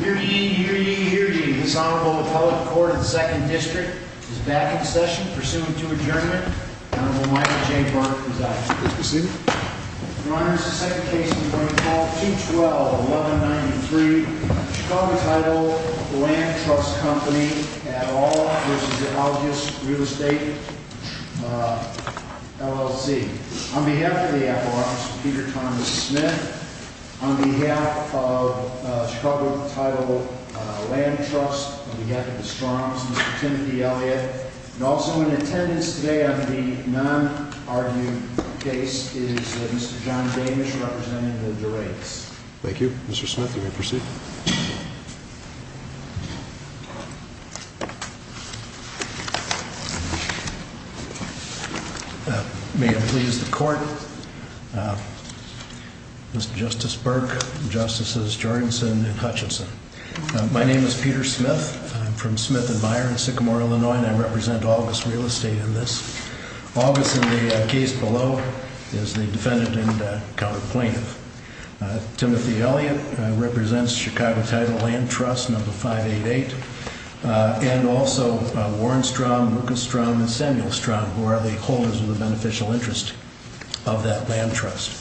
Hear ye, hear ye, hear ye. This Honorable Appellate Court of the 2nd District is back in session. Pursuant to adjournment, Honorable Michael J. Burke is out. Is this the seat? Your Honor, this is the second case in front of Court 212-1193. Chicago Title Land Trust Company v. Algus Real Estate, LLC. On behalf of the Apple Office, Peter Thomas Smith. On behalf of Chicago Title Land Trust, on behalf of the Strong's, Mr. Timothy Elliott. And also in attendance today on the non-argued case is Mr. John Damish, representative of the Rakes. Thank you, Mr. Smith. You may proceed. May it please the Court. Mr. Justice Burke, Justices Jorgensen and Hutchinson. My name is Peter Smith. I'm from Smith and Meyer in Sycamore, Illinois, and I represent Algus Real Estate in this. Algus in the case below is the defendant and counter plaintiff. Timothy Elliott represents Chicago Title Land Trust, number 588, and also Warren Strong, Lucas Strong, and Samuel Strong, who are the holders of the beneficial interest of that land trust.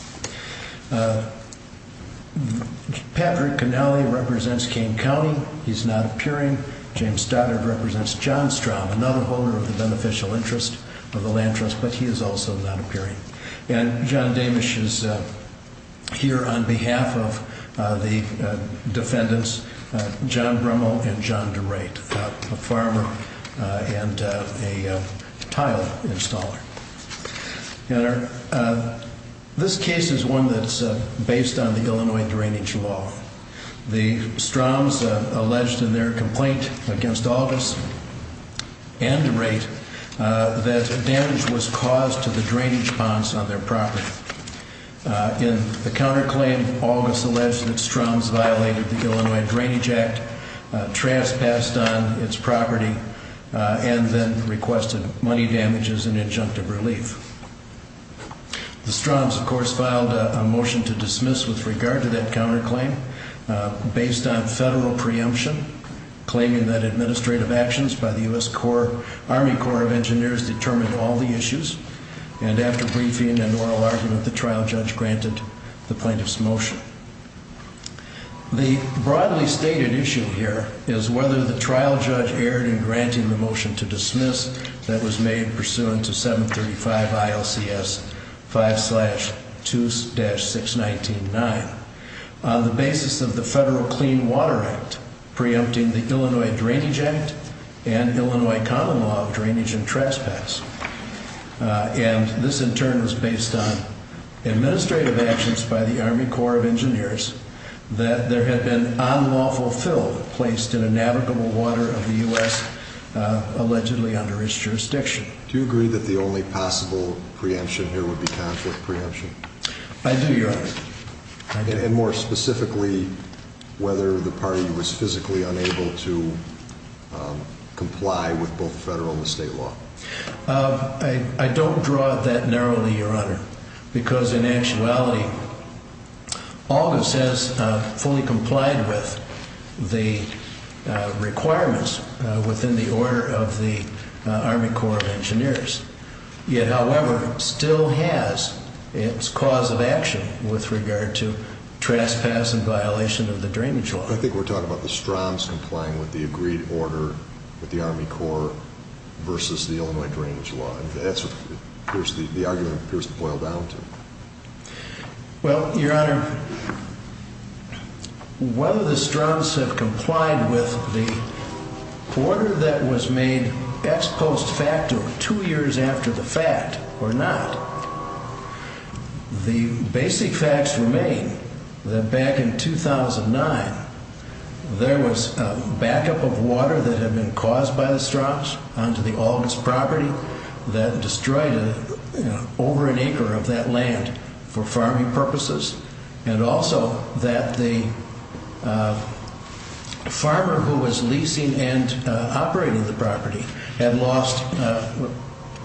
Patrick Connelly represents King County, he's not appearing. James Stoddard represents John Strong, another holder of the beneficial interest of the land trust, but he is also not appearing. And John Damish is here on behalf of the defendants, John Brummel and John DeRate, a farmer and a tile installer. This case is one that's based on the Illinois Drainage Law. The Strongs alleged in their complaint against Algus and DeRate that damage was caused to the drainage ponds on their property. In the counterclaim, Algus alleged that Strongs violated the Illinois Drainage Act, trespassed on its property, and then requested money damages and injunctive relief. The Strongs, of course, filed a motion to dismiss with regard to that counterclaim based on federal preemption. Claiming that administrative actions by the US Army Corps of Engineers determined all the issues. And after briefing and oral argument, the trial judge granted the plaintiff's motion. The broadly stated issue here is whether the trial judge erred in granting the motion to dismiss that was made pursuant to 735 ILCS 5-2-6199. On the basis of the Federal Clean Water Act, preempting the Illinois Drainage Act and the Illinois Common Law of Drainage and Trespass. And this in turn was based on administrative actions by the Army Corps of Engineers. That there had been unlawful fill placed in a navigable water of the US, allegedly under its jurisdiction. Do you agree that the only possible preemption here would be conflict preemption? I do, Your Honor, I do. And more specifically, whether the party was physically unable to comply with both federal and state law. I don't draw it that narrowly, Your Honor. Because in actuality, August has fully complied with the requirements within the order of the Army Corps of Engineers. Yet, however, still has its cause of action with regard to trespass and violation of the drainage law. I think we're talking about the Stroms complying with the agreed order with the Army Corps versus the Illinois Drainage Law. And that's what the argument appears to boil down to. Well, Your Honor, whether the Stroms have complied with the order that was made ex post facto two years after the fact or not. The basic facts remain that back in 2009, there was a backup of water that had been caused by the Stroms onto the Alden's property. That destroyed over an acre of that land for farming purposes. And also that the farmer who was leasing and operating the property had lost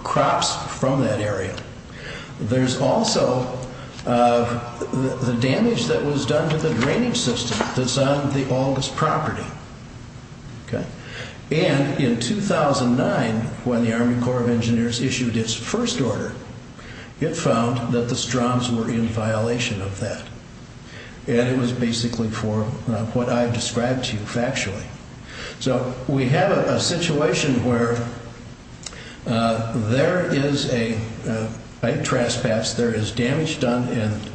crops from that area. There's also the damage that was done to the drainage system that's on the Alden's property. And in 2009, when the Army Corps of Engineers issued its first order, it found that the Stroms were in violation of that. And it was basically for what I've described to you factually. So we have a situation where there is a trespass, there is damage done, and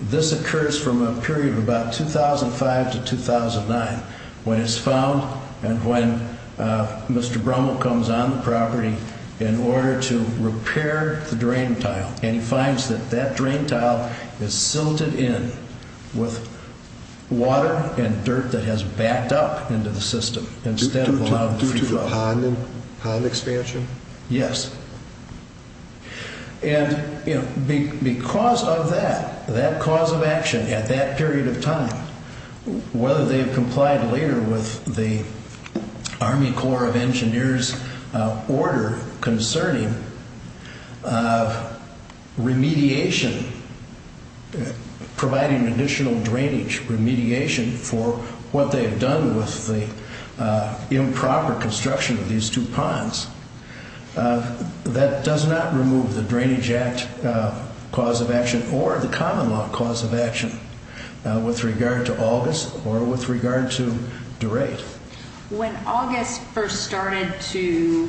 this occurs from a period of about 2005 to 2009. When it's found and when Mr. Brummel comes on the property in order to repair the drain tile, and he finds that that drain tile is silted in with water and dirt that has backed up into the system instead of allowing free flow. Due to the pond expansion? Yes. And because of that, that cause of action at that period of time, whether they've complied later with the Army Corps of Engineers order concerning remediation, providing additional drainage remediation for what they've done with the improper construction of these two ponds. That does not remove the Drainage Act cause of action or the common law cause of action with regard to August or with regard to Durate. When August first started to,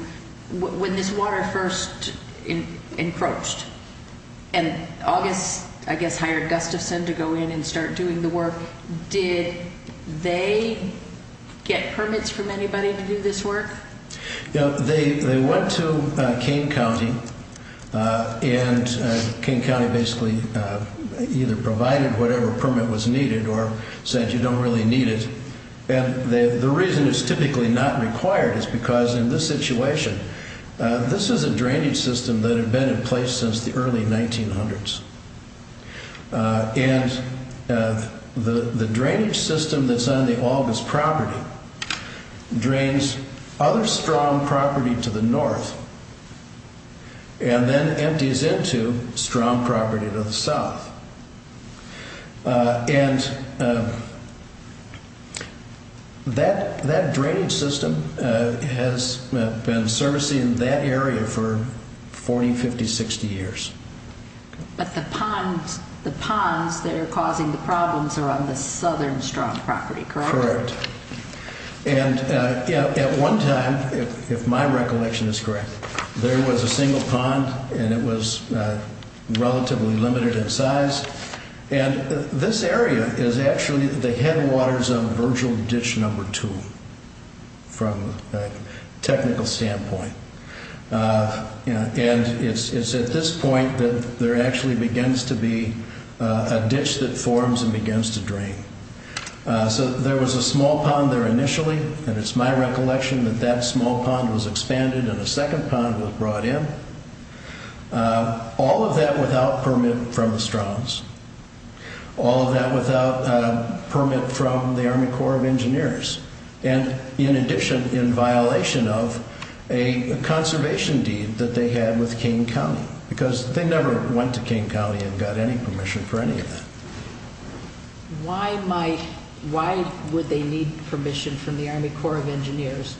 when this water first encroached, and August, I guess, hired Gustafson to go in and start doing the work. Did they get permits from anybody to do this work? No, they went to Kane County, and Kane County basically either provided whatever permit was needed or said you don't really need it. And the reason it's typically not required is because in this situation, this is a drainage system that had been in place since the early 1900s. And the drainage system that's on the August property drains other strong property to the north, and then empties into strong property to the south. And that drainage system has been servicing that area for 40, 50, 60 years. But the ponds that are causing the problems are on the southern strong property, correct? Correct, and at one time, if my recollection is correct, there was a single pond, and it was relatively limited in size. And this area is actually the headwaters of Virgil Ditch Number Two, from a technical standpoint. And it's at this point that there actually begins to be a ditch that forms and begins to drain. So there was a small pond there initially, and it's my recollection that that small pond was expanded and a second pond was brought in, all of that without permit from the Strongs. All of that without permit from the Army Corps of Engineers. And in addition, in violation of a conservation deed that they had with Kane County, because they never went to Kane County and got any permission for any of that. Why would they need permission from the Army Corps of Engineers?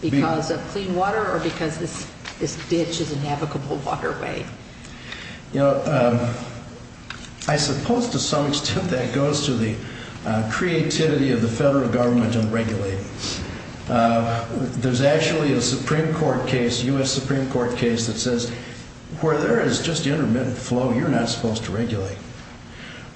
Because of clean water or because this ditch is a navigable waterway? I suppose to some extent that goes to the creativity of the federal government to regulate. There's actually a Supreme Court case, US Supreme Court case, that says where there is just intermittent flow, you're not supposed to regulate.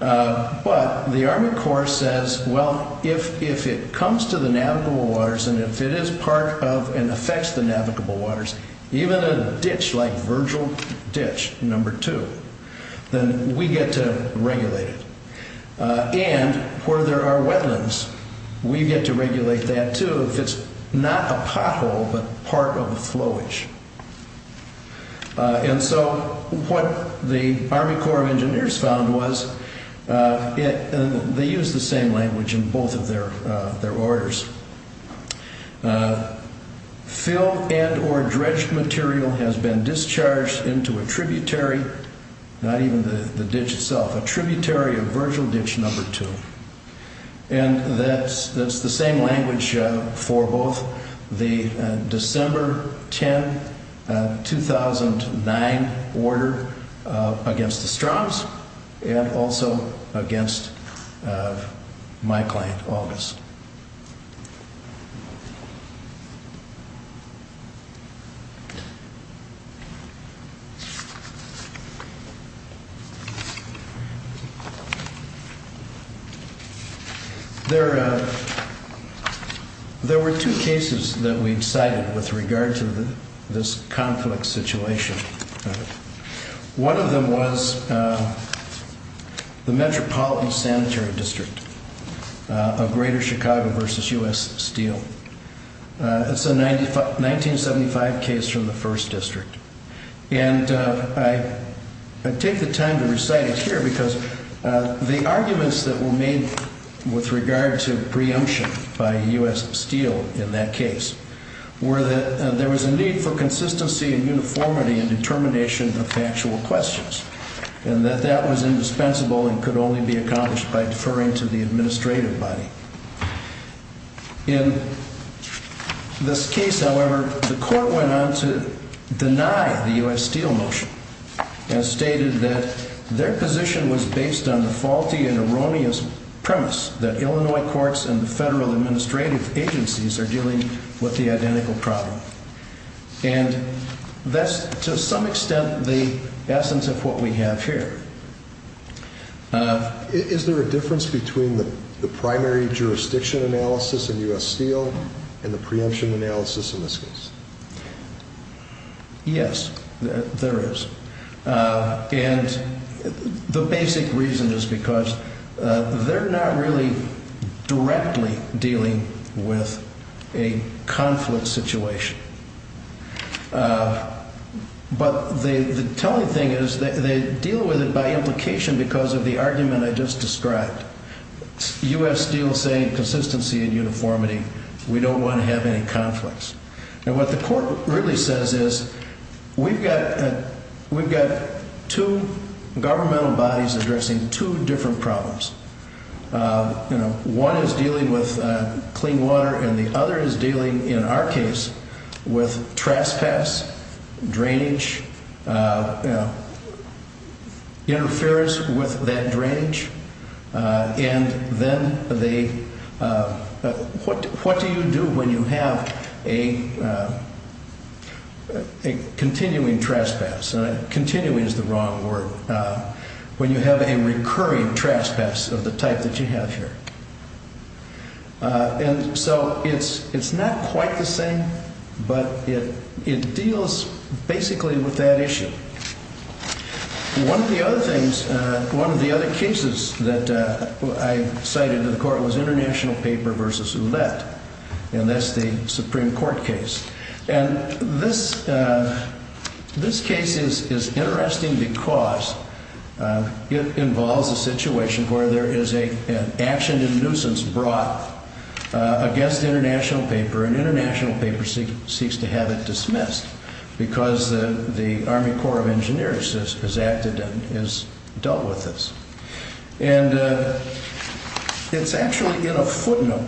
But the Army Corps says, well, if it comes to the navigable waters, and if it is part of and affects the navigable waters, even a ditch like Virgil Ditch Number Two, then we get to regulate it. And where there are wetlands, we get to regulate that too, if it's not a pothole, but part of the flowage. And so what the Army Corps of Engineers found was, they used the same language in both of their orders. Fill and or dredged material has been discharged into a tributary, not even the ditch itself, a tributary of Virgil Ditch Number Two. And that's the same language for both the December 10, 2009 order against the Strahms and also against my client, August. There were two cases that we decided with regard to this conflict situation. One of them was the Metropolitan Sanitary District of Greater Chicago versus U.S. Steel. It's a 1975 case from the first district. And I take the time to recite it here because the arguments that were made with regard to preemption by U.S. Steel in that case, were that there was a need for consistency and uniformity in determination of factual questions, and that that was indispensable and could only be accomplished by deferring to the administrative body. In this case, however, the court went on to deny the U.S. Steel motion, and stated that their position was based on the faulty and erroneous premise that Illinois courts and the federal administrative agencies are dealing with the identical problem. And that's to some extent the essence of what we have here. Is there a difference between the primary jurisdiction analysis in U.S. Steel and the preemption analysis in this case? Yes, there is. And the basic reason is because they're not really directly dealing with a conflict situation. But the telling thing is that they deal with it by implication because of the argument I just described. U.S. Steel saying consistency and uniformity, we don't want to have any conflicts. And what the court really says is, we've got two governmental bodies addressing two different problems. One is dealing with clean water, and the other is dealing, in our case, with trespass, drainage, interference with that drainage. And then they, what do you do when you have a continuing trespass? Continuing is the wrong word. When you have a recurring trespass of the type that you have here. And so it's not quite the same, but it deals basically with that issue. One of the other things, one of the other cases that I cited to the court was International Paper v. Ouellette. And that's the Supreme Court case. And this case is interesting because it involves a situation where there is an action in nuisance brought against International Paper, and International Paper seeks to have it dismissed because the Army Corps of Engineers has acted and has dealt with this. And it's actually in a footnote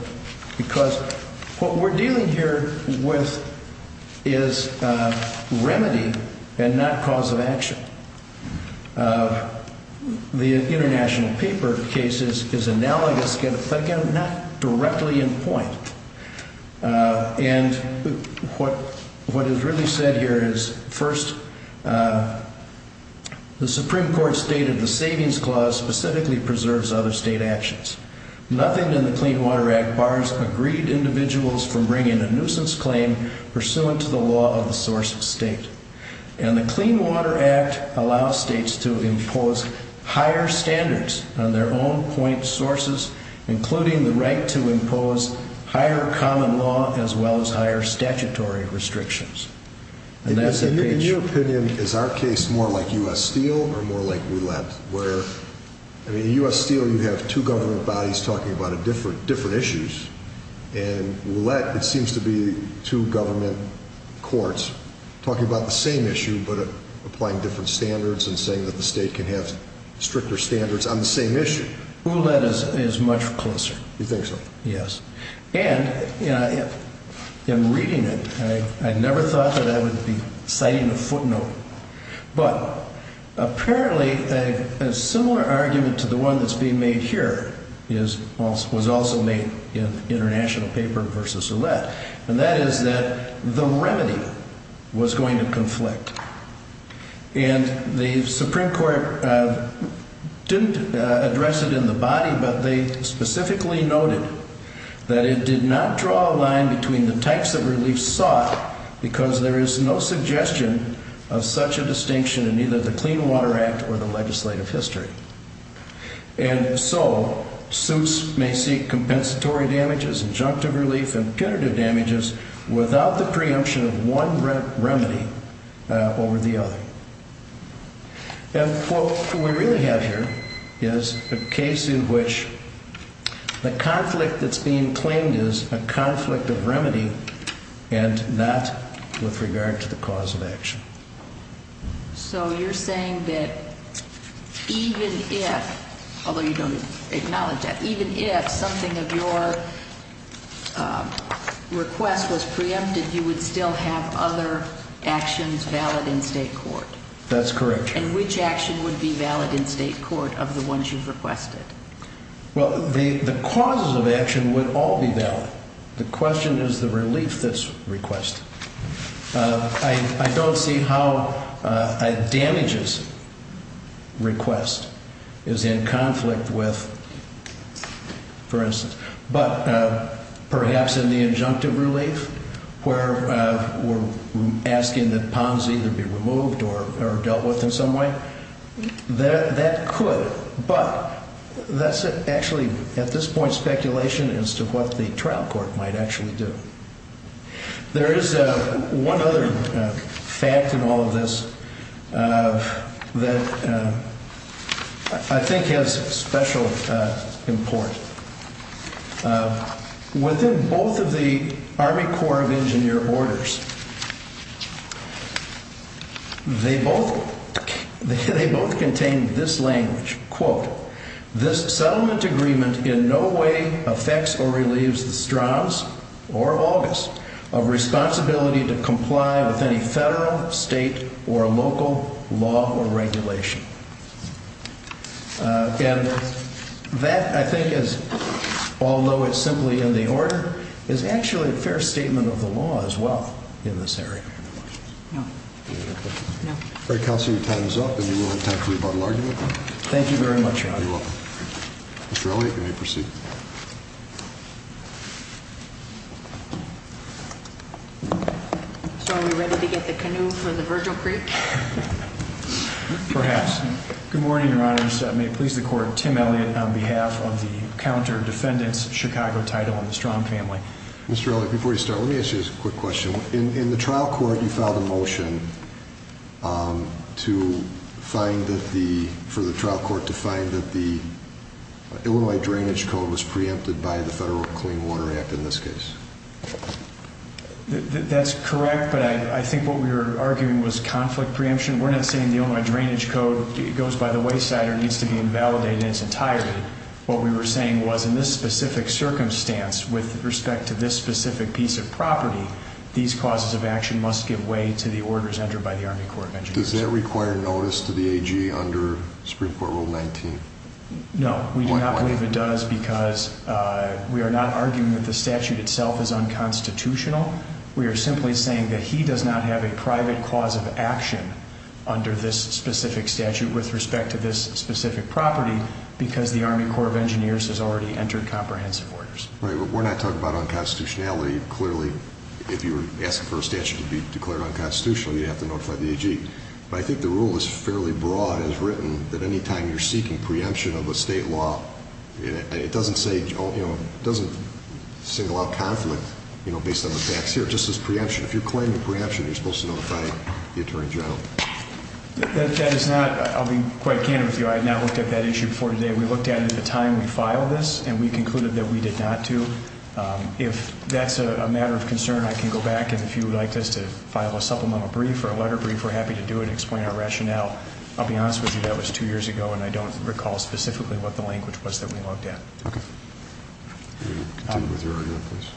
because what we're dealing here with is remedy and not cause of action. The International Paper case is analogous, but again, not directly in point. And what is really said here is, first, the Supreme Court stated the Savings Clause specifically preserves other state actions. Nothing in the Clean Water Act bars agreed individuals from bringing a nuisance claim pursuant to the law of the source state. And the Clean Water Act allows states to impose higher standards on their own point sources, including the right to impose higher common law as well as higher statutory restrictions. In your opinion, is our case more like U.S. Steel or more like Ouellette? Where in U.S. Steel you have two government bodies talking about different issues, and Ouellette it seems to be two government courts talking about the same issue but applying different standards and saying that the state can have stricter standards on the same issue. Ouellette is much closer. You think so? Yes. And in reading it, I never thought that I would be citing a footnote. But apparently a similar argument to the one that's being made here was also made in the international paper versus Ouellette, and that is that the remedy was going to conflict. And the Supreme Court didn't address it in the body, but they specifically noted that it did not draw a line between the types of relief sought because there is no suggestion of such a distinction in either the Clean Water Act or the legislative history. And so suits may seek compensatory damages, injunctive relief, and punitive damages without the preemption of one remedy over the other. And what we really have here is a case in which the conflict that's being claimed is a conflict of remedy and not with regard to the cause of action. So you're saying that even if, although you don't acknowledge that, even if something of your request was preempted, you would still have other actions valid in state court? That's correct. And which action would be valid in state court of the ones you've requested? Well, the causes of action would all be valid. The question is the relief that's requested. I don't see how a damages request is in conflict with, for instance, but perhaps in the injunctive relief where we're asking that ponds either be removed or dealt with in some way. That could, but that's actually at this point speculation as to what the trial court might actually do. There is one other fact in all of this that I think has special import. Within both of the Army Corps of Engineer orders, they both contain this language, quote, this settlement agreement in no way affects or relieves the Strauss or August of responsibility to comply with any federal, state, or local law or regulation. And that I think is, although it's simply in the order, is actually a fair statement of the law as well in this area. No. No. All right, Counselor, your time is up and you will have time for rebuttal argument. Thank you very much, Your Honor. You're welcome. Mr. Elliott, you may proceed. So are we ready to get the canoe for the Virgil Creek? Perhaps. Good morning, Your Honors. May it please the Court, Tim Elliott on behalf of the Counter Defendants Chicago Title and the Strom family. Mr. Elliott, before you start, let me ask you a quick question. In the trial court, you filed a motion for the trial court to find that the Illinois Drainage Code was preempted by the Federal Clean Water Act in this case. That's correct, but I think what we were arguing was conflict preemption. We're not saying the Illinois Drainage Code goes by the wayside or needs to be invalidated in its entirety. What we were saying was in this specific circumstance with respect to this specific piece of property, these causes of action must give way to the orders entered by the Army Corps of Engineers. Does that require notice to the AG under Supreme Court Rule 19? No, we do not believe it does because we are not arguing that the statute itself is unconstitutional. We are simply saying that he does not have a private cause of action under this specific statute with respect to this specific property because the Army Corps of Engineers has already entered comprehensive orders. Right, but we're not talking about unconstitutionality. Clearly, if you were asking for a statute to be declared unconstitutional, you'd have to notify the AG. But I think the rule is fairly broad and is written that any time you're seeking preemption of a state law, it doesn't single out conflict based on the facts here, just as preemption. If you're claiming preemption, you're supposed to notify the Attorney General. I'll be quite candid with you. I had not looked at that issue before today. We looked at it at the time we filed this, and we concluded that we did not do. If that's a matter of concern, I can go back, and if you would like us to file a supplemental brief or a letter brief, we're happy to do it and explain our rationale. I'll be honest with you, that was two years ago, and I don't recall specifically what the language was that we looked at. Okay. Continue with your argument, please.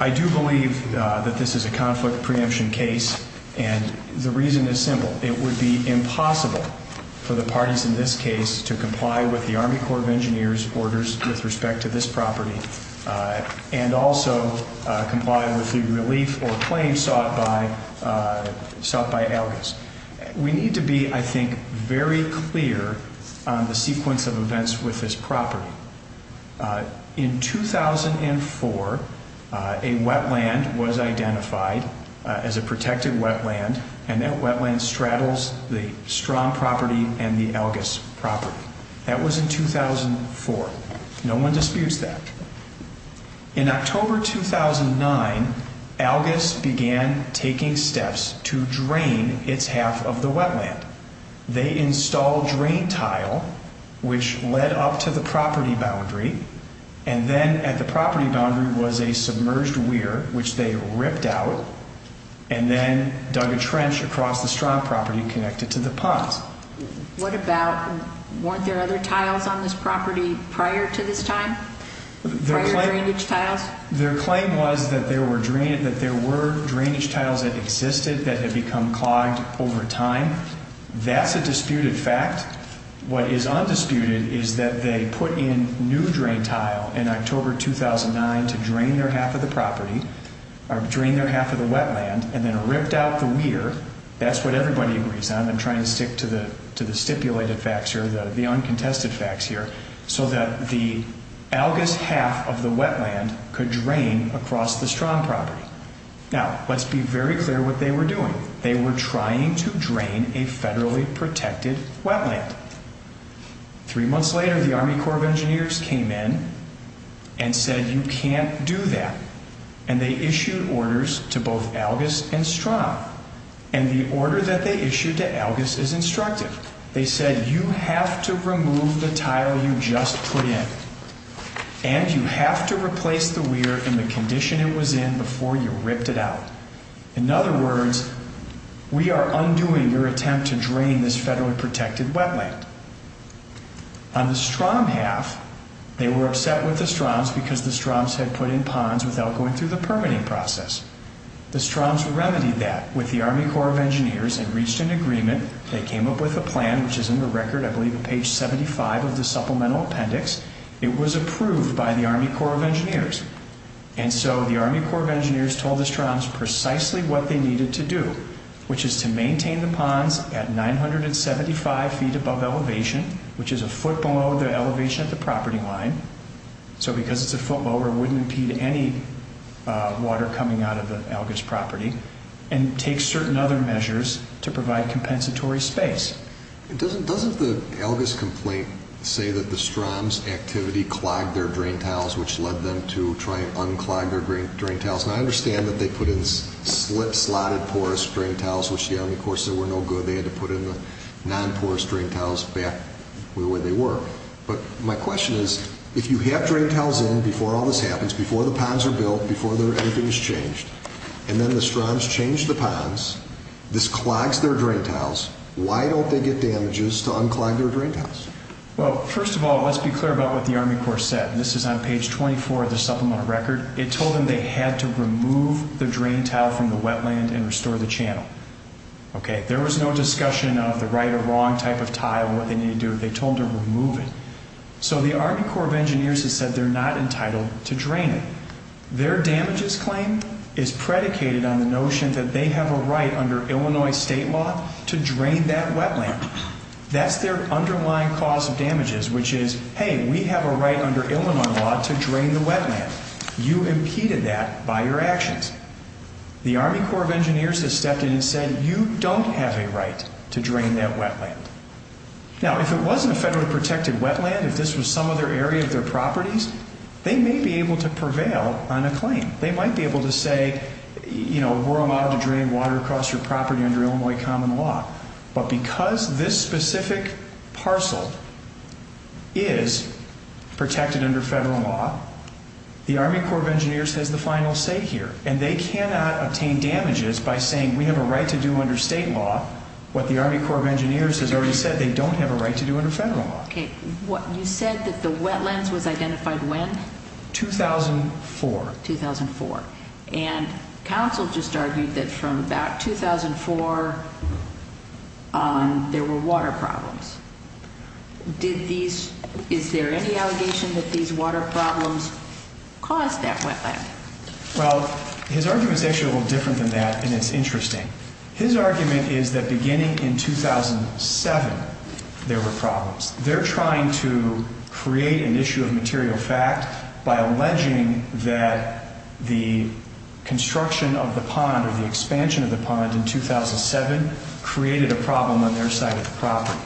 I do believe that this is a conflict preemption case, and the reason is simple. It would be impossible for the parties in this case to comply with the Army Corps of Engineers' orders with respect to this property and also comply with the relief or claims sought by ALGIS. We need to be, I think, very clear on the sequence of events with this property. In 2004, a wetland was identified as a protected wetland, and that wetland straddles the Strahm property and the ALGIS property. That was in 2004. No one disputes that. In October 2009, ALGIS began taking steps to drain its half of the wetland. They installed drain tile, which led up to the property boundary, and then at the property boundary was a submerged weir, which they ripped out and then dug a trench across the Strahm property connected to the ponds. What about, weren't there other tiles on this property prior to this time, prior drainage tiles? Their claim was that there were drainage tiles that existed that had become clogged over time. That's a disputed fact. What is undisputed is that they put in new drain tile in October 2009 to drain their half of the property, or drain their half of the wetland, and then ripped out the weir. That's what everybody agrees on. I'm trying to stick to the stipulated facts here, the uncontested facts here, so that the ALGIS half of the wetland could drain across the Strahm property. Now, let's be very clear what they were doing. They were trying to drain a federally protected wetland. Three months later, the Army Corps of Engineers came in and said, you can't do that, and they issued orders to both ALGIS and Strahm, and the order that they issued to ALGIS is instructive. They said, you have to remove the tile you just put in, and you have to replace the weir in the condition it was in before you ripped it out. In other words, we are undoing your attempt to drain this federally protected wetland. On the Strahm half, they were upset with the Strahms because the Strahms had put in ponds without going through the permitting process. The Strahms remedied that with the Army Corps of Engineers and reached an agreement. They came up with a plan, which is in the record, I believe page 75 of the supplemental appendix. It was approved by the Army Corps of Engineers. And so the Army Corps of Engineers told the Strahms precisely what they needed to do, which is to maintain the ponds at 975 feet above elevation, which is a foot below the elevation at the property line. So because it's a foot below, it wouldn't impede any water coming out of the ALGIS property, and take certain other measures to provide compensatory space. Doesn't the ALGIS complaint say that the Strahms activity clogged their drain tiles, which led them to try and unclog their drain tiles? Now, I understand that they put in slit, slotted porous drain tiles, which the Army Corps said were no good. They had to put in the non-porous drain tiles back the way they were. But my question is, if you have drain tiles in before all this happens, before the ponds are built, before everything is changed, and then the Strahms change the ponds, this clogs their drain tiles, why don't they get damages to unclog their drain tiles? Well, first of all, let's be clear about what the Army Corps said. This is on page 24 of the supplemental record. It told them they had to remove the drain tile from the wetland and restore the channel. There was no discussion of the right or wrong type of tile, what they needed to do. They told them to remove it. So the Army Corps of Engineers has said they're not entitled to drain it. Their damages claim is predicated on the notion that they have a right under Illinois state law to drain that wetland. That's their underlying cause of damages, which is, hey, we have a right under Illinois law to drain the wetland. You impeded that by your actions. The Army Corps of Engineers has stepped in and said you don't have a right to drain that wetland. Now, if it wasn't a federally protected wetland, if this was some other area of their properties, they may be able to prevail on a claim. They might be able to say, you know, we're allowed to drain water across your property under Illinois common law. But because this specific parcel is protected under federal law, the Army Corps of Engineers has the final say here. And they cannot obtain damages by saying we have a right to do under state law what the Army Corps of Engineers has already said they don't have a right to do under federal law. Okay. You said that the wetlands was identified when? 2004. 2004. And counsel just argued that from about 2004, there were water problems. Is there any allegation that these water problems caused that wetland? Well, his argument is actually a little different than that, and it's interesting. His argument is that beginning in 2007, there were problems. They're trying to create an issue of material fact by alleging that the construction of the pond or the expansion of the pond in 2007 created a problem on their side of the property.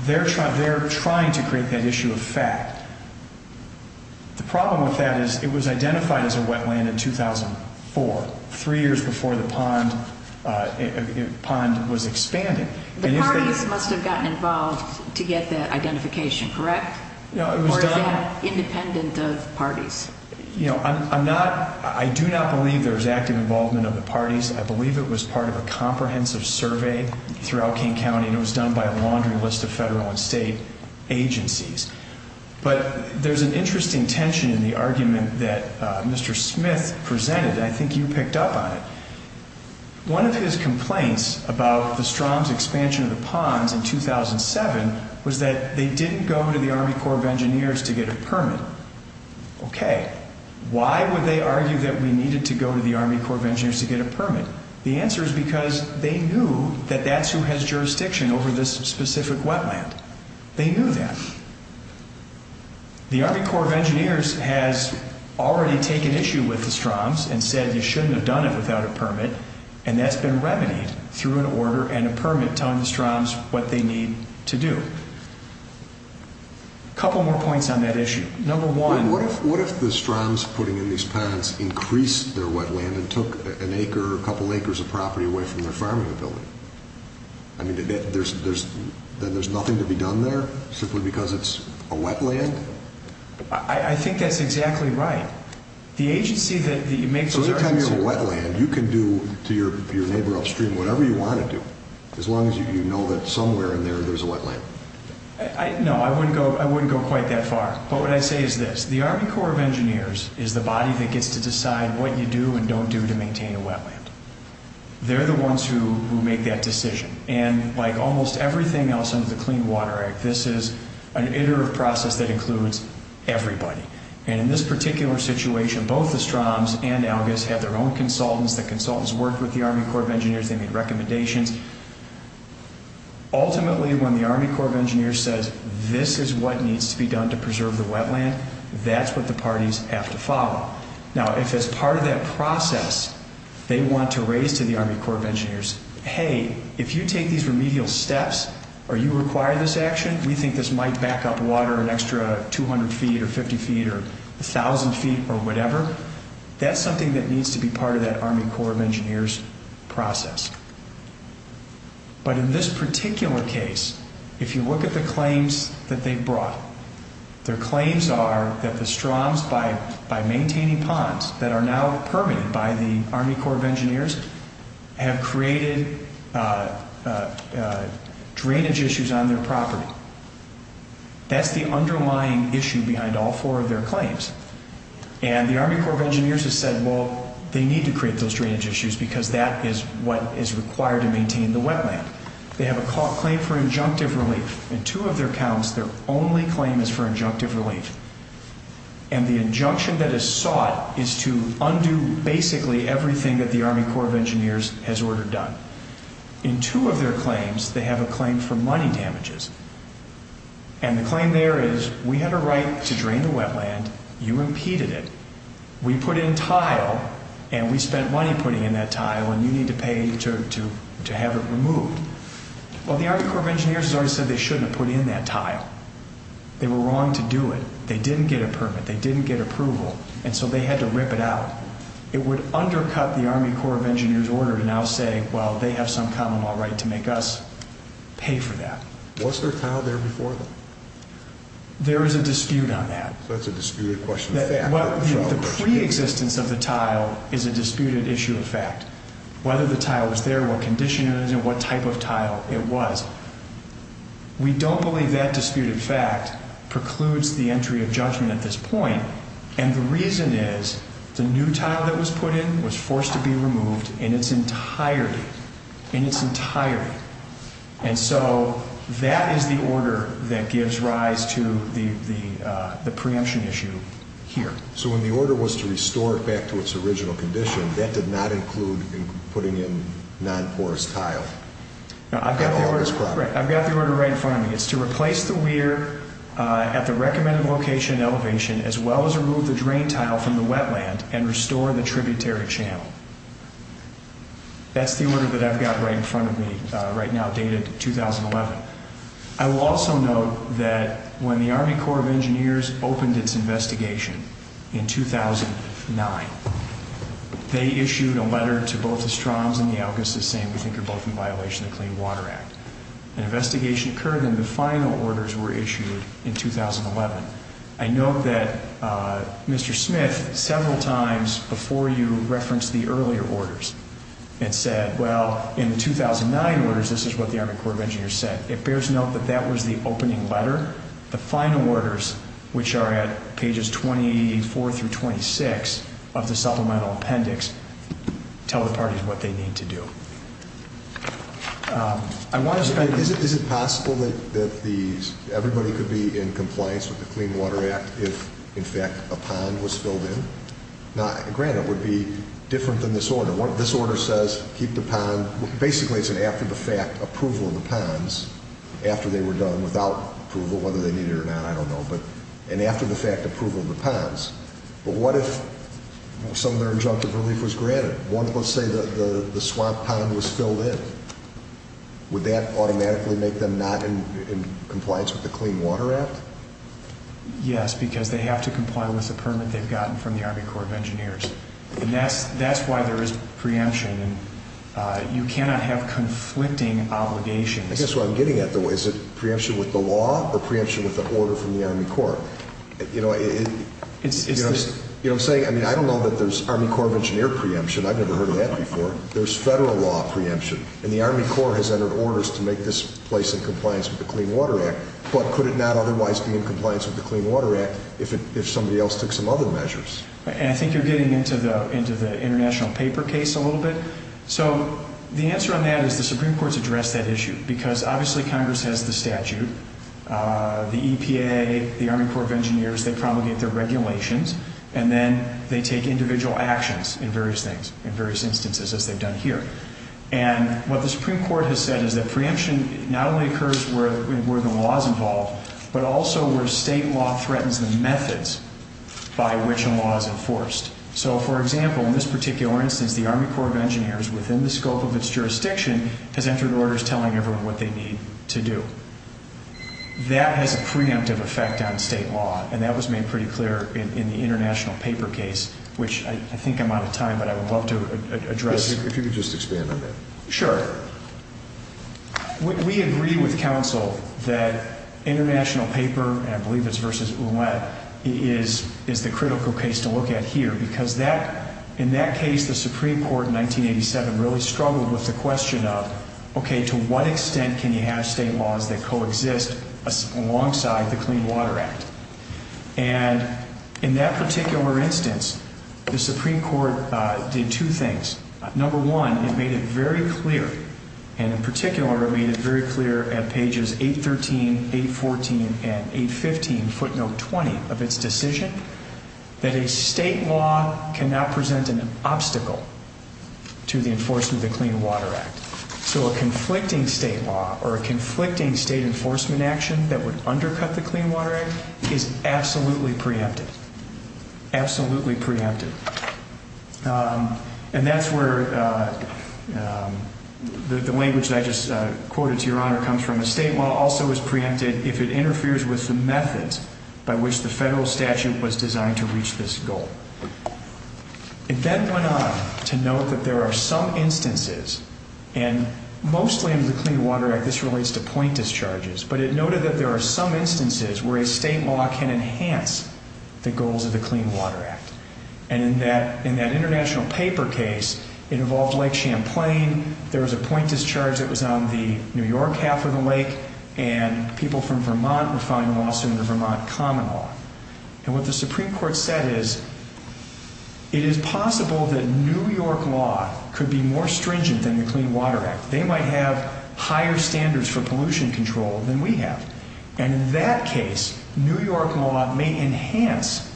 They're trying to create that issue of fact. The problem with that is it was identified as a wetland in 2004, three years before the pond was expanded. The parties must have gotten involved to get that identification, correct? No, it was done. Or is that independent of parties? You know, I do not believe there was active involvement of the parties. I believe it was part of a comprehensive survey throughout King County, and it was done by a laundry list of federal and state agencies. But there's an interesting tension in the argument that Mr. Smith presented, and I think you picked up on it. One of his complaints about the Stroms' expansion of the ponds in 2007 was that they didn't go to the Army Corps of Engineers to get a permit. Okay, why would they argue that we needed to go to the Army Corps of Engineers to get a permit? The answer is because they knew that that's who has jurisdiction over this specific wetland. They knew that. The Army Corps of Engineers has already taken issue with the Stroms and said you shouldn't have done it without a permit, and that's been remedied through an order and a permit telling the Stroms what they need to do. A couple more points on that issue. Number one— What if the Stroms putting in these ponds increased their wetland and took an acre or a couple acres of property away from their farming ability? I mean, then there's nothing to be done there simply because it's a wetland? I think that's exactly right. So any time you have a wetland, you can do to your neighbor upstream whatever you want to do, as long as you know that somewhere in there there's a wetland. No, I wouldn't go quite that far. But what I'd say is this. The Army Corps of Engineers is the body that gets to decide what you do and don't do to maintain a wetland. They're the ones who make that decision. And like almost everything else under the Clean Water Act, this is an iterative process that includes everybody. And in this particular situation, both the Stroms and ALGIS had their own consultants. The consultants worked with the Army Corps of Engineers. They made recommendations. Ultimately, when the Army Corps of Engineers says this is what needs to be done to preserve the wetland, that's what the parties have to follow. Now, if as part of that process they want to raise to the Army Corps of Engineers, hey, if you take these remedial steps or you require this action, we think this might back up water an extra 200 feet or 50 feet or 1,000 feet or whatever, that's something that needs to be part of that Army Corps of Engineers process. But in this particular case, if you look at the claims that they brought, their claims are that the Stroms, by maintaining ponds that are now permitted by the Army Corps of Engineers, have created drainage issues on their property. That's the underlying issue behind all four of their claims. And the Army Corps of Engineers has said, well, they need to create those drainage issues because that is what is required to maintain the wetland. They have a claim for injunctive relief. In two of their accounts, their only claim is for injunctive relief. And the injunction that is sought is to undo basically everything that the Army Corps of Engineers has ordered done. In two of their claims, they have a claim for money damages. And the claim there is we had a right to drain the wetland. You impeded it. We put in tile, and we spent money putting in that tile, and you need to pay to have it removed. Well, the Army Corps of Engineers has already said they shouldn't have put in that tile. They were wrong to do it. They didn't get a permit. They didn't get approval. And so they had to rip it out. It would undercut the Army Corps of Engineers' order to now say, well, they have some common law right to make us pay for that. Was there tile there before them? There is a dispute on that. So it's a disputed question of fact. The preexistence of the tile is a disputed issue of fact. Whether the tile was there, what condition it was in, what type of tile it was, we don't believe that disputed fact precludes the entry of judgment at this point. And the reason is the new tile that was put in was forced to be removed in its entirety, in its entirety. And so that is the order that gives rise to the preemption issue here. So when the order was to restore it back to its original condition, that did not include putting in non-porous tile? I've got the order right in front of me. It's to replace the weir at the recommended location and elevation as well as remove the drain tile from the wetland and restore the tributary channel. That's the order that I've got right in front of me right now, dated 2011. I will also note that when the Army Corps of Engineers opened its investigation in 2009, they issued a letter to both the Stroms and the Alcasas saying we think they're both in violation of the Clean Water Act. An investigation occurred and the final orders were issued in 2011. I note that Mr. Smith, several times before you referenced the earlier orders, had said, well, in the 2009 orders, this is what the Army Corps of Engineers said. It bears note that that was the opening letter. The final orders, which are at pages 24 through 26 of the supplemental appendix, tell the parties what they need to do. Is it possible that everybody could be in compliance with the Clean Water Act if, in fact, a pond was filled in? Now, granted, it would be different than this order. This order says keep the pond. Basically, it's an after-the-fact approval of the ponds after they were done, without approval, whether they need it or not. I don't know. But an after-the-fact approval of the ponds. But what if some of their injunctive relief was granted? Let's say the swamp pond was filled in. Would that automatically make them not in compliance with the Clean Water Act? Yes, because they have to comply with the permit they've gotten from the Army Corps of Engineers. And that's why there is preemption. You cannot have conflicting obligations. I guess what I'm getting at, though, is it preemption with the law or preemption with an order from the Army Corps? You know what I'm saying? I mean, I don't know that there's Army Corps of Engineers preemption. I've never heard of that before. There's federal law preemption. And the Army Corps has entered orders to make this place in compliance with the Clean Water Act. But could it not otherwise be in compliance with the Clean Water Act if somebody else took some other measures? And I think you're getting into the international paper case a little bit. So the answer on that is the Supreme Court's addressed that issue because, obviously, Congress has the statute. The EPA, the Army Corps of Engineers, they promulgate their regulations. And then they take individual actions in various things, in various instances, as they've done here. And what the Supreme Court has said is that preemption not only occurs where the law is involved, but also where state law threatens the methods by which a law is enforced. So, for example, in this particular instance, the Army Corps of Engineers, within the scope of its jurisdiction, has entered orders telling everyone what they need to do. That has a preemptive effect on state law, and that was made pretty clear in the international paper case, which I think I'm out of time, but I would love to address. If you could just expand on that. Sure. We agree with counsel that international paper, and I believe it's versus Ouellette, is the critical case to look at here. Because in that case, the Supreme Court in 1987 really struggled with the question of, okay, to what extent can you have state laws that coexist alongside the Clean Water Act? And in that particular instance, the Supreme Court did two things. Number one, it made it very clear, and in particular it made it very clear at pages 813, 814, and 815, footnote 20 of its decision, that a state law cannot present an obstacle to the enforcement of the Clean Water Act. So a conflicting state law or a conflicting state enforcement action that would undercut the Clean Water Act is absolutely preemptive. Absolutely preemptive. And that's where the language that I just quoted to your honor comes from. A state law also is preemptive if it interferes with the methods by which the federal statute was designed to reach this goal. It then went on to note that there are some instances, and mostly under the Clean Water Act this relates to point discharges, but it noted that there are some instances where a state law can enhance the goals of the Clean Water Act. And in that international paper case, it involved Lake Champlain, there was a point discharge that was on the New York half of the lake, and people from Vermont were filing a lawsuit under Vermont common law. And what the Supreme Court said is, it is possible that New York law could be more stringent than the Clean Water Act. They might have higher standards for pollution control than we have. And in that case, New York law may enhance,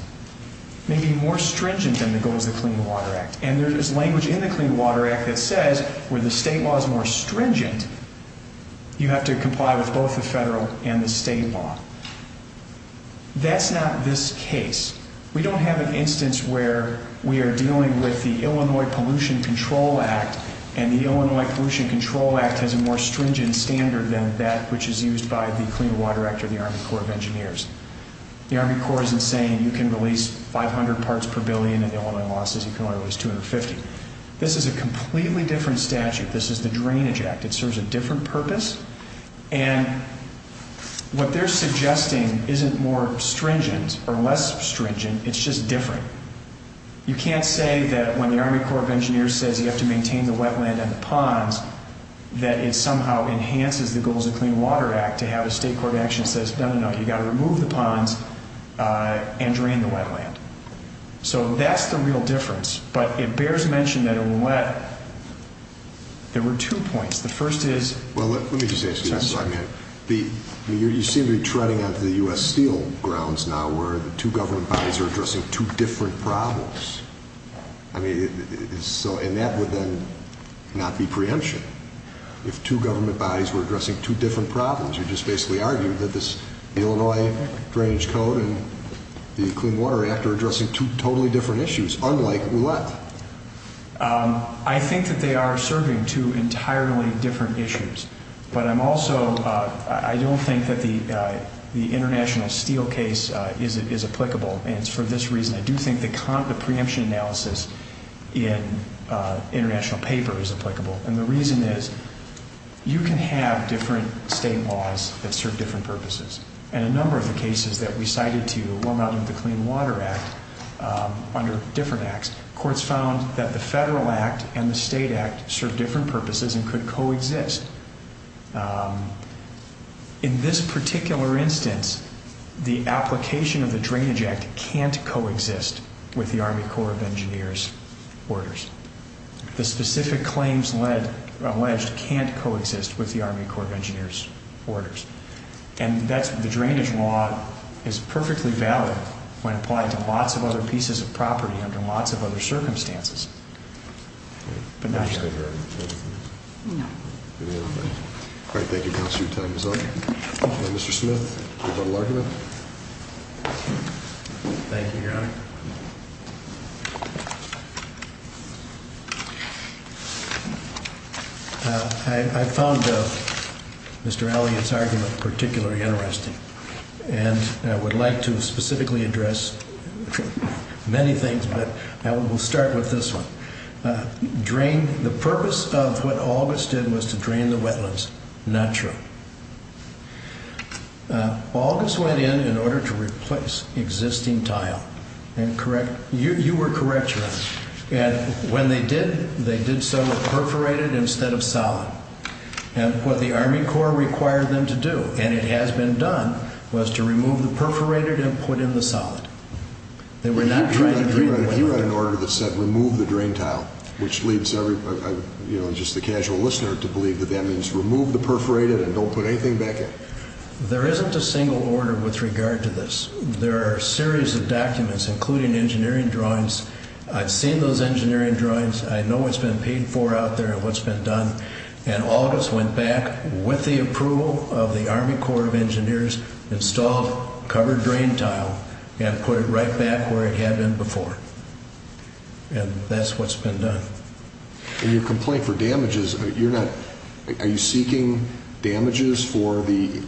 may be more stringent than the goals of the Clean Water Act. And there is language in the Clean Water Act that says, where the state law is more stringent, you have to comply with both the federal and the state law. That's not this case. We don't have an instance where we are dealing with the Illinois Pollution Control Act, and the Illinois Pollution Control Act has a more stringent standard than that which is used by the Clean Water Act or the Army Corps of Engineers. The Army Corps isn't saying you can release 500 parts per billion in Illinois losses, you can only release 250. This is a completely different statute. This is the Drainage Act. It serves a different purpose. And what they're suggesting isn't more stringent or less stringent. It's just different. You can't say that when the Army Corps of Engineers says you have to maintain the wetland and the ponds, that it somehow enhances the goals of the Clean Water Act to have a state court action that says, no, no, no, you've got to remove the ponds and drain the wetland. So that's the real difference. But it bears mention that in wet, there were two points. Well, let me just ask you this. You seem to be treading onto the U.S. Steel grounds now where the two government bodies are addressing two different problems. And that would then not be preemption. If two government bodies were addressing two different problems, you'd just basically argue that this Illinois Drainage Code and the Clean Water Act are addressing two totally different issues, unlike wet. I think that they are serving two entirely different issues. But I'm also, I don't think that the international steel case is applicable. And it's for this reason I do think the preemption analysis in international paper is applicable. And the reason is you can have different state laws that serve different purposes. And a number of the cases that we cited to warm out of the Clean Water Act under different acts, courts found that the federal act and the state act serve different purposes and could coexist. In this particular instance, the application of the Drainage Act can't coexist with the Army Corps of Engineers orders. The specific claims alleged can't coexist with the Army Corps of Engineers orders. And that's the drainage law is perfectly valid when applied to lots of other pieces of property under lots of other circumstances. But not yet. No. All right, thank you, counsel. Your time is up. Mr. Smith, do you have a little argument? Thank you, Your Honor. I found Mr. Elliott's argument particularly interesting. And I would like to specifically address many things, but I will start with this one. The purpose of what August did was to drain the wetlands. Not true. August went in in order to replace existing tile. You were correct, Your Honor. And when they did, they did so with perforated instead of solid. And what the Army Corps required them to do, and it has been done, was to remove the perforated and put in the solid. They were not trying to drain the wetlands. He read an order that said remove the drain tile, which leads everybody, you know, just the casual listener to believe that that means remove the perforated and don't put anything back in. There isn't a single order with regard to this. There are a series of documents, including engineering drawings. I've seen those engineering drawings. I know what's been paid for out there and what's been done. And August went back with the approval of the Army Corps of Engineers, installed covered drain tile, and put it right back where it had been before. And that's what's been done. In your complaint for damages, you're not, are you seeking damages for the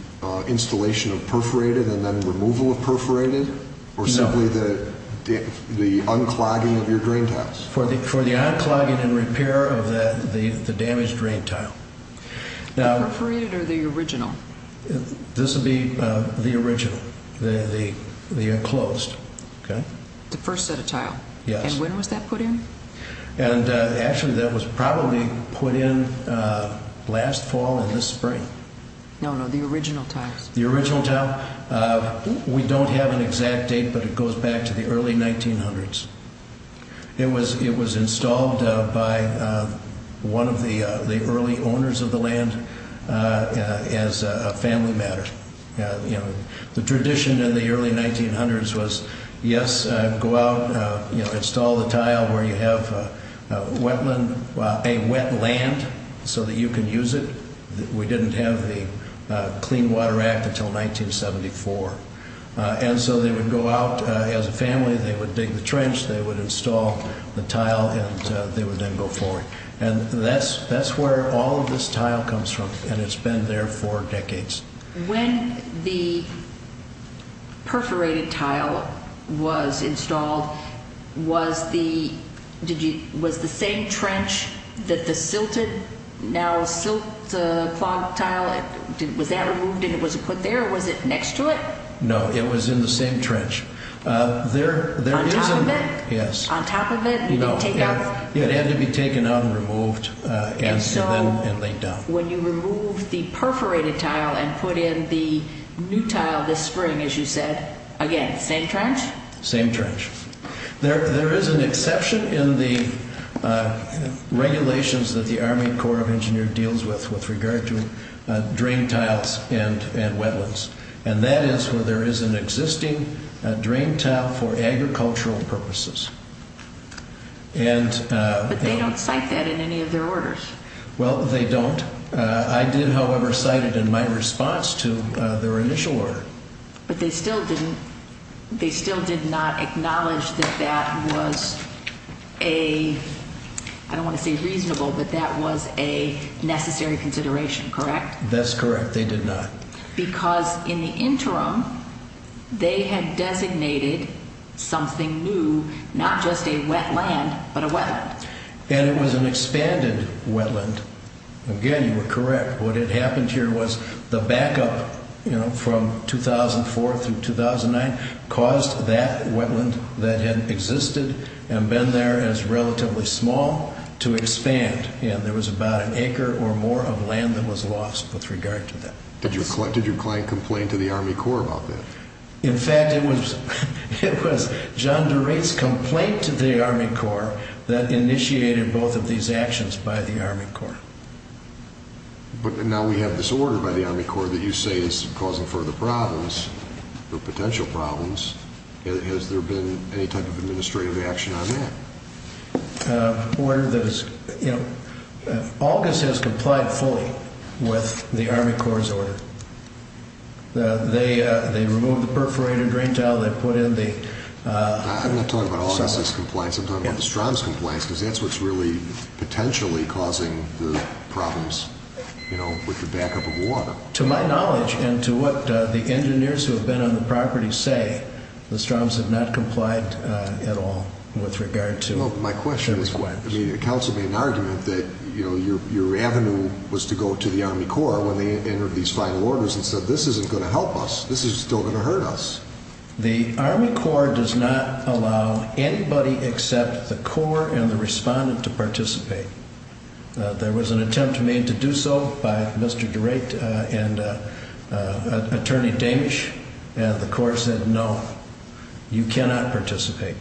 installation of perforated and then removal of perforated? No. Or simply the unclogging of your drain tiles? For the unclogging and repair of the damaged drain tile. The perforated or the original? This would be the original, the enclosed. The first set of tile? Yes. And when was that put in? And actually, that was probably put in last fall and this spring. No, no, the original tiles. The original tile. We don't have an exact date, but it goes back to the early 1900s. It was installed by one of the early owners of the land as a family matter. The tradition in the early 1900s was, yes, go out, install the tile where you have wetland, a wet land so that you can use it. We didn't have the Clean Water Act until 1974. And so they would go out as a family, they would dig the trench, they would install the tile, and they would then go forward. And that's where all of this tile comes from, and it's been there for decades. When the perforated tile was installed, was the same trench that the silted, now silt-clog tile, was that removed and it was put there, or was it next to it? No, it was in the same trench. On top of it? Yes. On top of it? No, it had to be taken out and removed and then laid down. When you remove the perforated tile and put in the new tile this spring, as you said, again, same trench? Same trench. There is an exception in the regulations that the Army Corps of Engineers deals with, with regard to drain tiles and wetlands. And that is where there is an existing drain tile for agricultural purposes. But they don't cite that in any of their orders. Well, they don't. I did, however, cite it in my response to their initial order. But they still did not acknowledge that that was a, I don't want to say reasonable, but that was a necessary consideration, correct? That's correct, they did not. Because in the interim, they had designated something new, not just a wetland, but a wetland. And it was an expanded wetland. Again, you were correct. What had happened here was the backup from 2004 through 2009 caused that wetland that had existed and been there as relatively small to expand. And there was about an acre or more of land that was lost with regard to that. Did your client complain to the Army Corps about that? In fact, it was John DeRate's complaint to the Army Corps that initiated both of these actions by the Army Corps. But now we have this order by the Army Corps that you say is causing further problems or potential problems. Has there been any type of administrative action on that? Order that is, you know, August has complied fully with the Army Corps' order. They removed the perforated drain tile. They put in the- I'm not talking about August's compliance. I'm talking about the Strahm's compliance because that's what's really potentially causing the problems, you know, with the backup of water. To my knowledge and to what the engineers who have been on the property say, the Strahm's have not complied at all with regard to- Well, my question is, counsel made an argument that, you know, your avenue was to go to the Army Corps when they entered these final orders and said, this isn't going to help us. This is still going to hurt us. The Army Corps does not allow anybody except the Corps and the respondent to participate. There was an attempt made to do so by Mr. DeRate and Attorney Damish, and the Corps said, no, you cannot participate.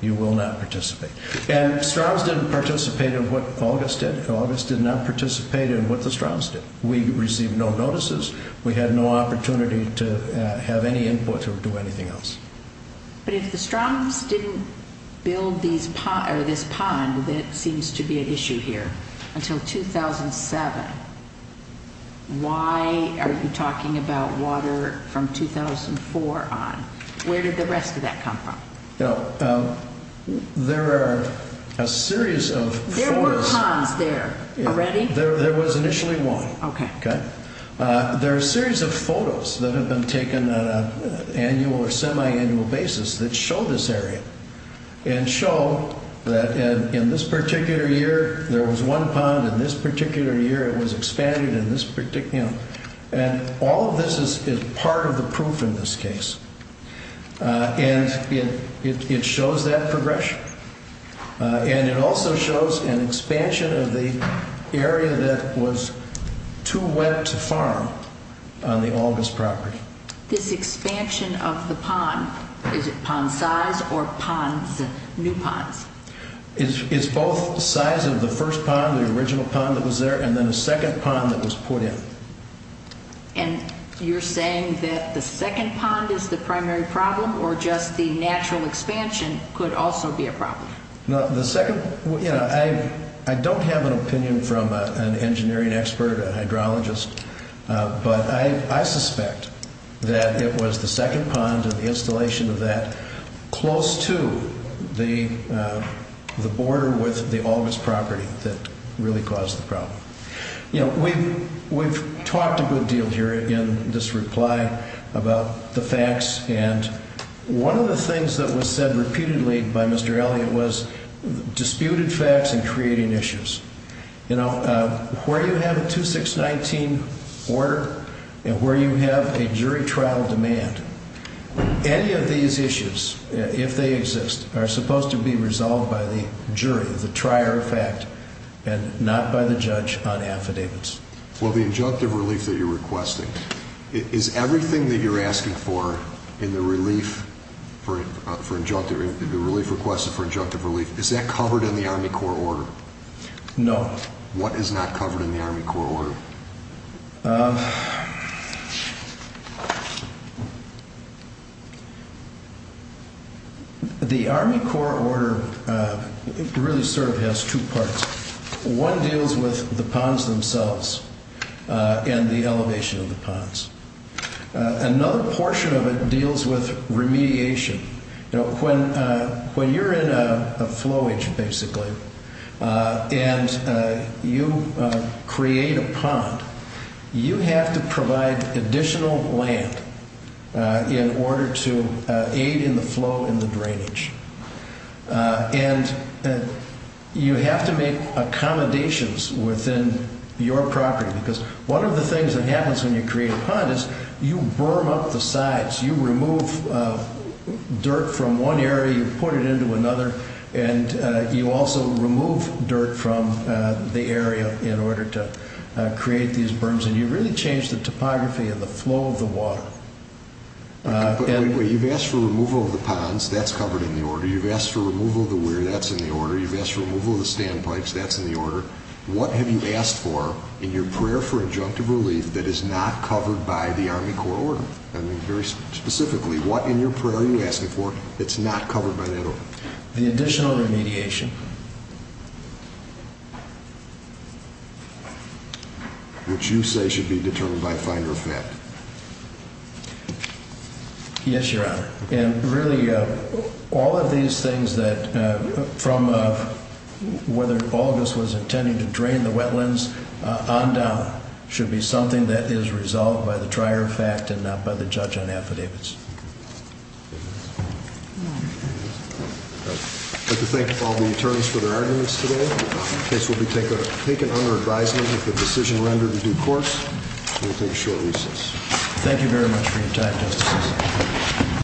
You will not participate. And Strahm's didn't participate in what August did. August did not participate in what the Strahm's did. We received no notices. We had no opportunity to have any input or do anything else. But if the Strahm's didn't build this pond that seems to be an issue here until 2007, why are you talking about water from 2004 on? Where did the rest of that come from? There are a series of photos- There were ponds there already? There was initially one. Okay. There are a series of photos that have been taken on an annual or semi-annual basis that show this area and show that in this particular year there was one pond, in this particular year it was expanded, and all of this is part of the proof in this case. And it shows that progression. And it also shows an expansion of the area that was too wet to farm on the August property. This expansion of the pond, is it pond size or new ponds? It's both the size of the first pond, the original pond that was there, and then a second pond that was put in. And you're saying that the second pond is the primary problem or just the natural expansion could also be a problem? I don't have an opinion from an engineering expert, a hydrologist, but I suspect that it was the second pond and the installation of that close to the border with the August property that really caused the problem. You know, we've talked a good deal here in this reply about the facts, and one of the things that was said repeatedly by Mr. Elliott was disputed facts and creating issues. You know, where you have a 2619 order and where you have a jury trial demand, any of these issues, if they exist, are supposed to be resolved by the jury, the trier of fact, and not by the judge on affidavits. Well, the injunctive relief that you're requesting, is everything that you're asking for in the relief for injunctive relief, the relief requested for injunctive relief, is that covered in the Army Corps order? No. What is not covered in the Army Corps order? The Army Corps order really sort of has two parts. One deals with the ponds themselves and the elevation of the ponds. Another portion of it deals with remediation. You know, when you're in a flowage, basically, and you create a pond, you have to provide additional land in order to aid in the flow and the drainage. And you have to make accommodations within your property, because one of the things that happens when you create a pond is you berm up the sides. You remove dirt from one area, you put it into another, and you also remove dirt from the area in order to create these berms, and you really change the topography and the flow of the water. You've asked for removal of the ponds, that's covered in the order. You've asked for removal of the weir, that's in the order. You've asked for removal of the standpipes, that's in the order. What have you asked for in your prayer for injunctive relief that is not covered by the Army Corps order? I mean, very specifically, what in your prayer are you asking for that's not covered by that order? The additional remediation. Which you say should be determined by finder of fact. Yes, Your Honor. And really, all of these things from whether August was intending to drain the wetlands on down should be something that is resolved by the trier of fact and not by the judge on affidavits. I'd like to thank all the attorneys for their arguments today. The case will be taken under advisement with the decision rendered in due course. We'll take a short recess. Thank you very much for your time, Justices.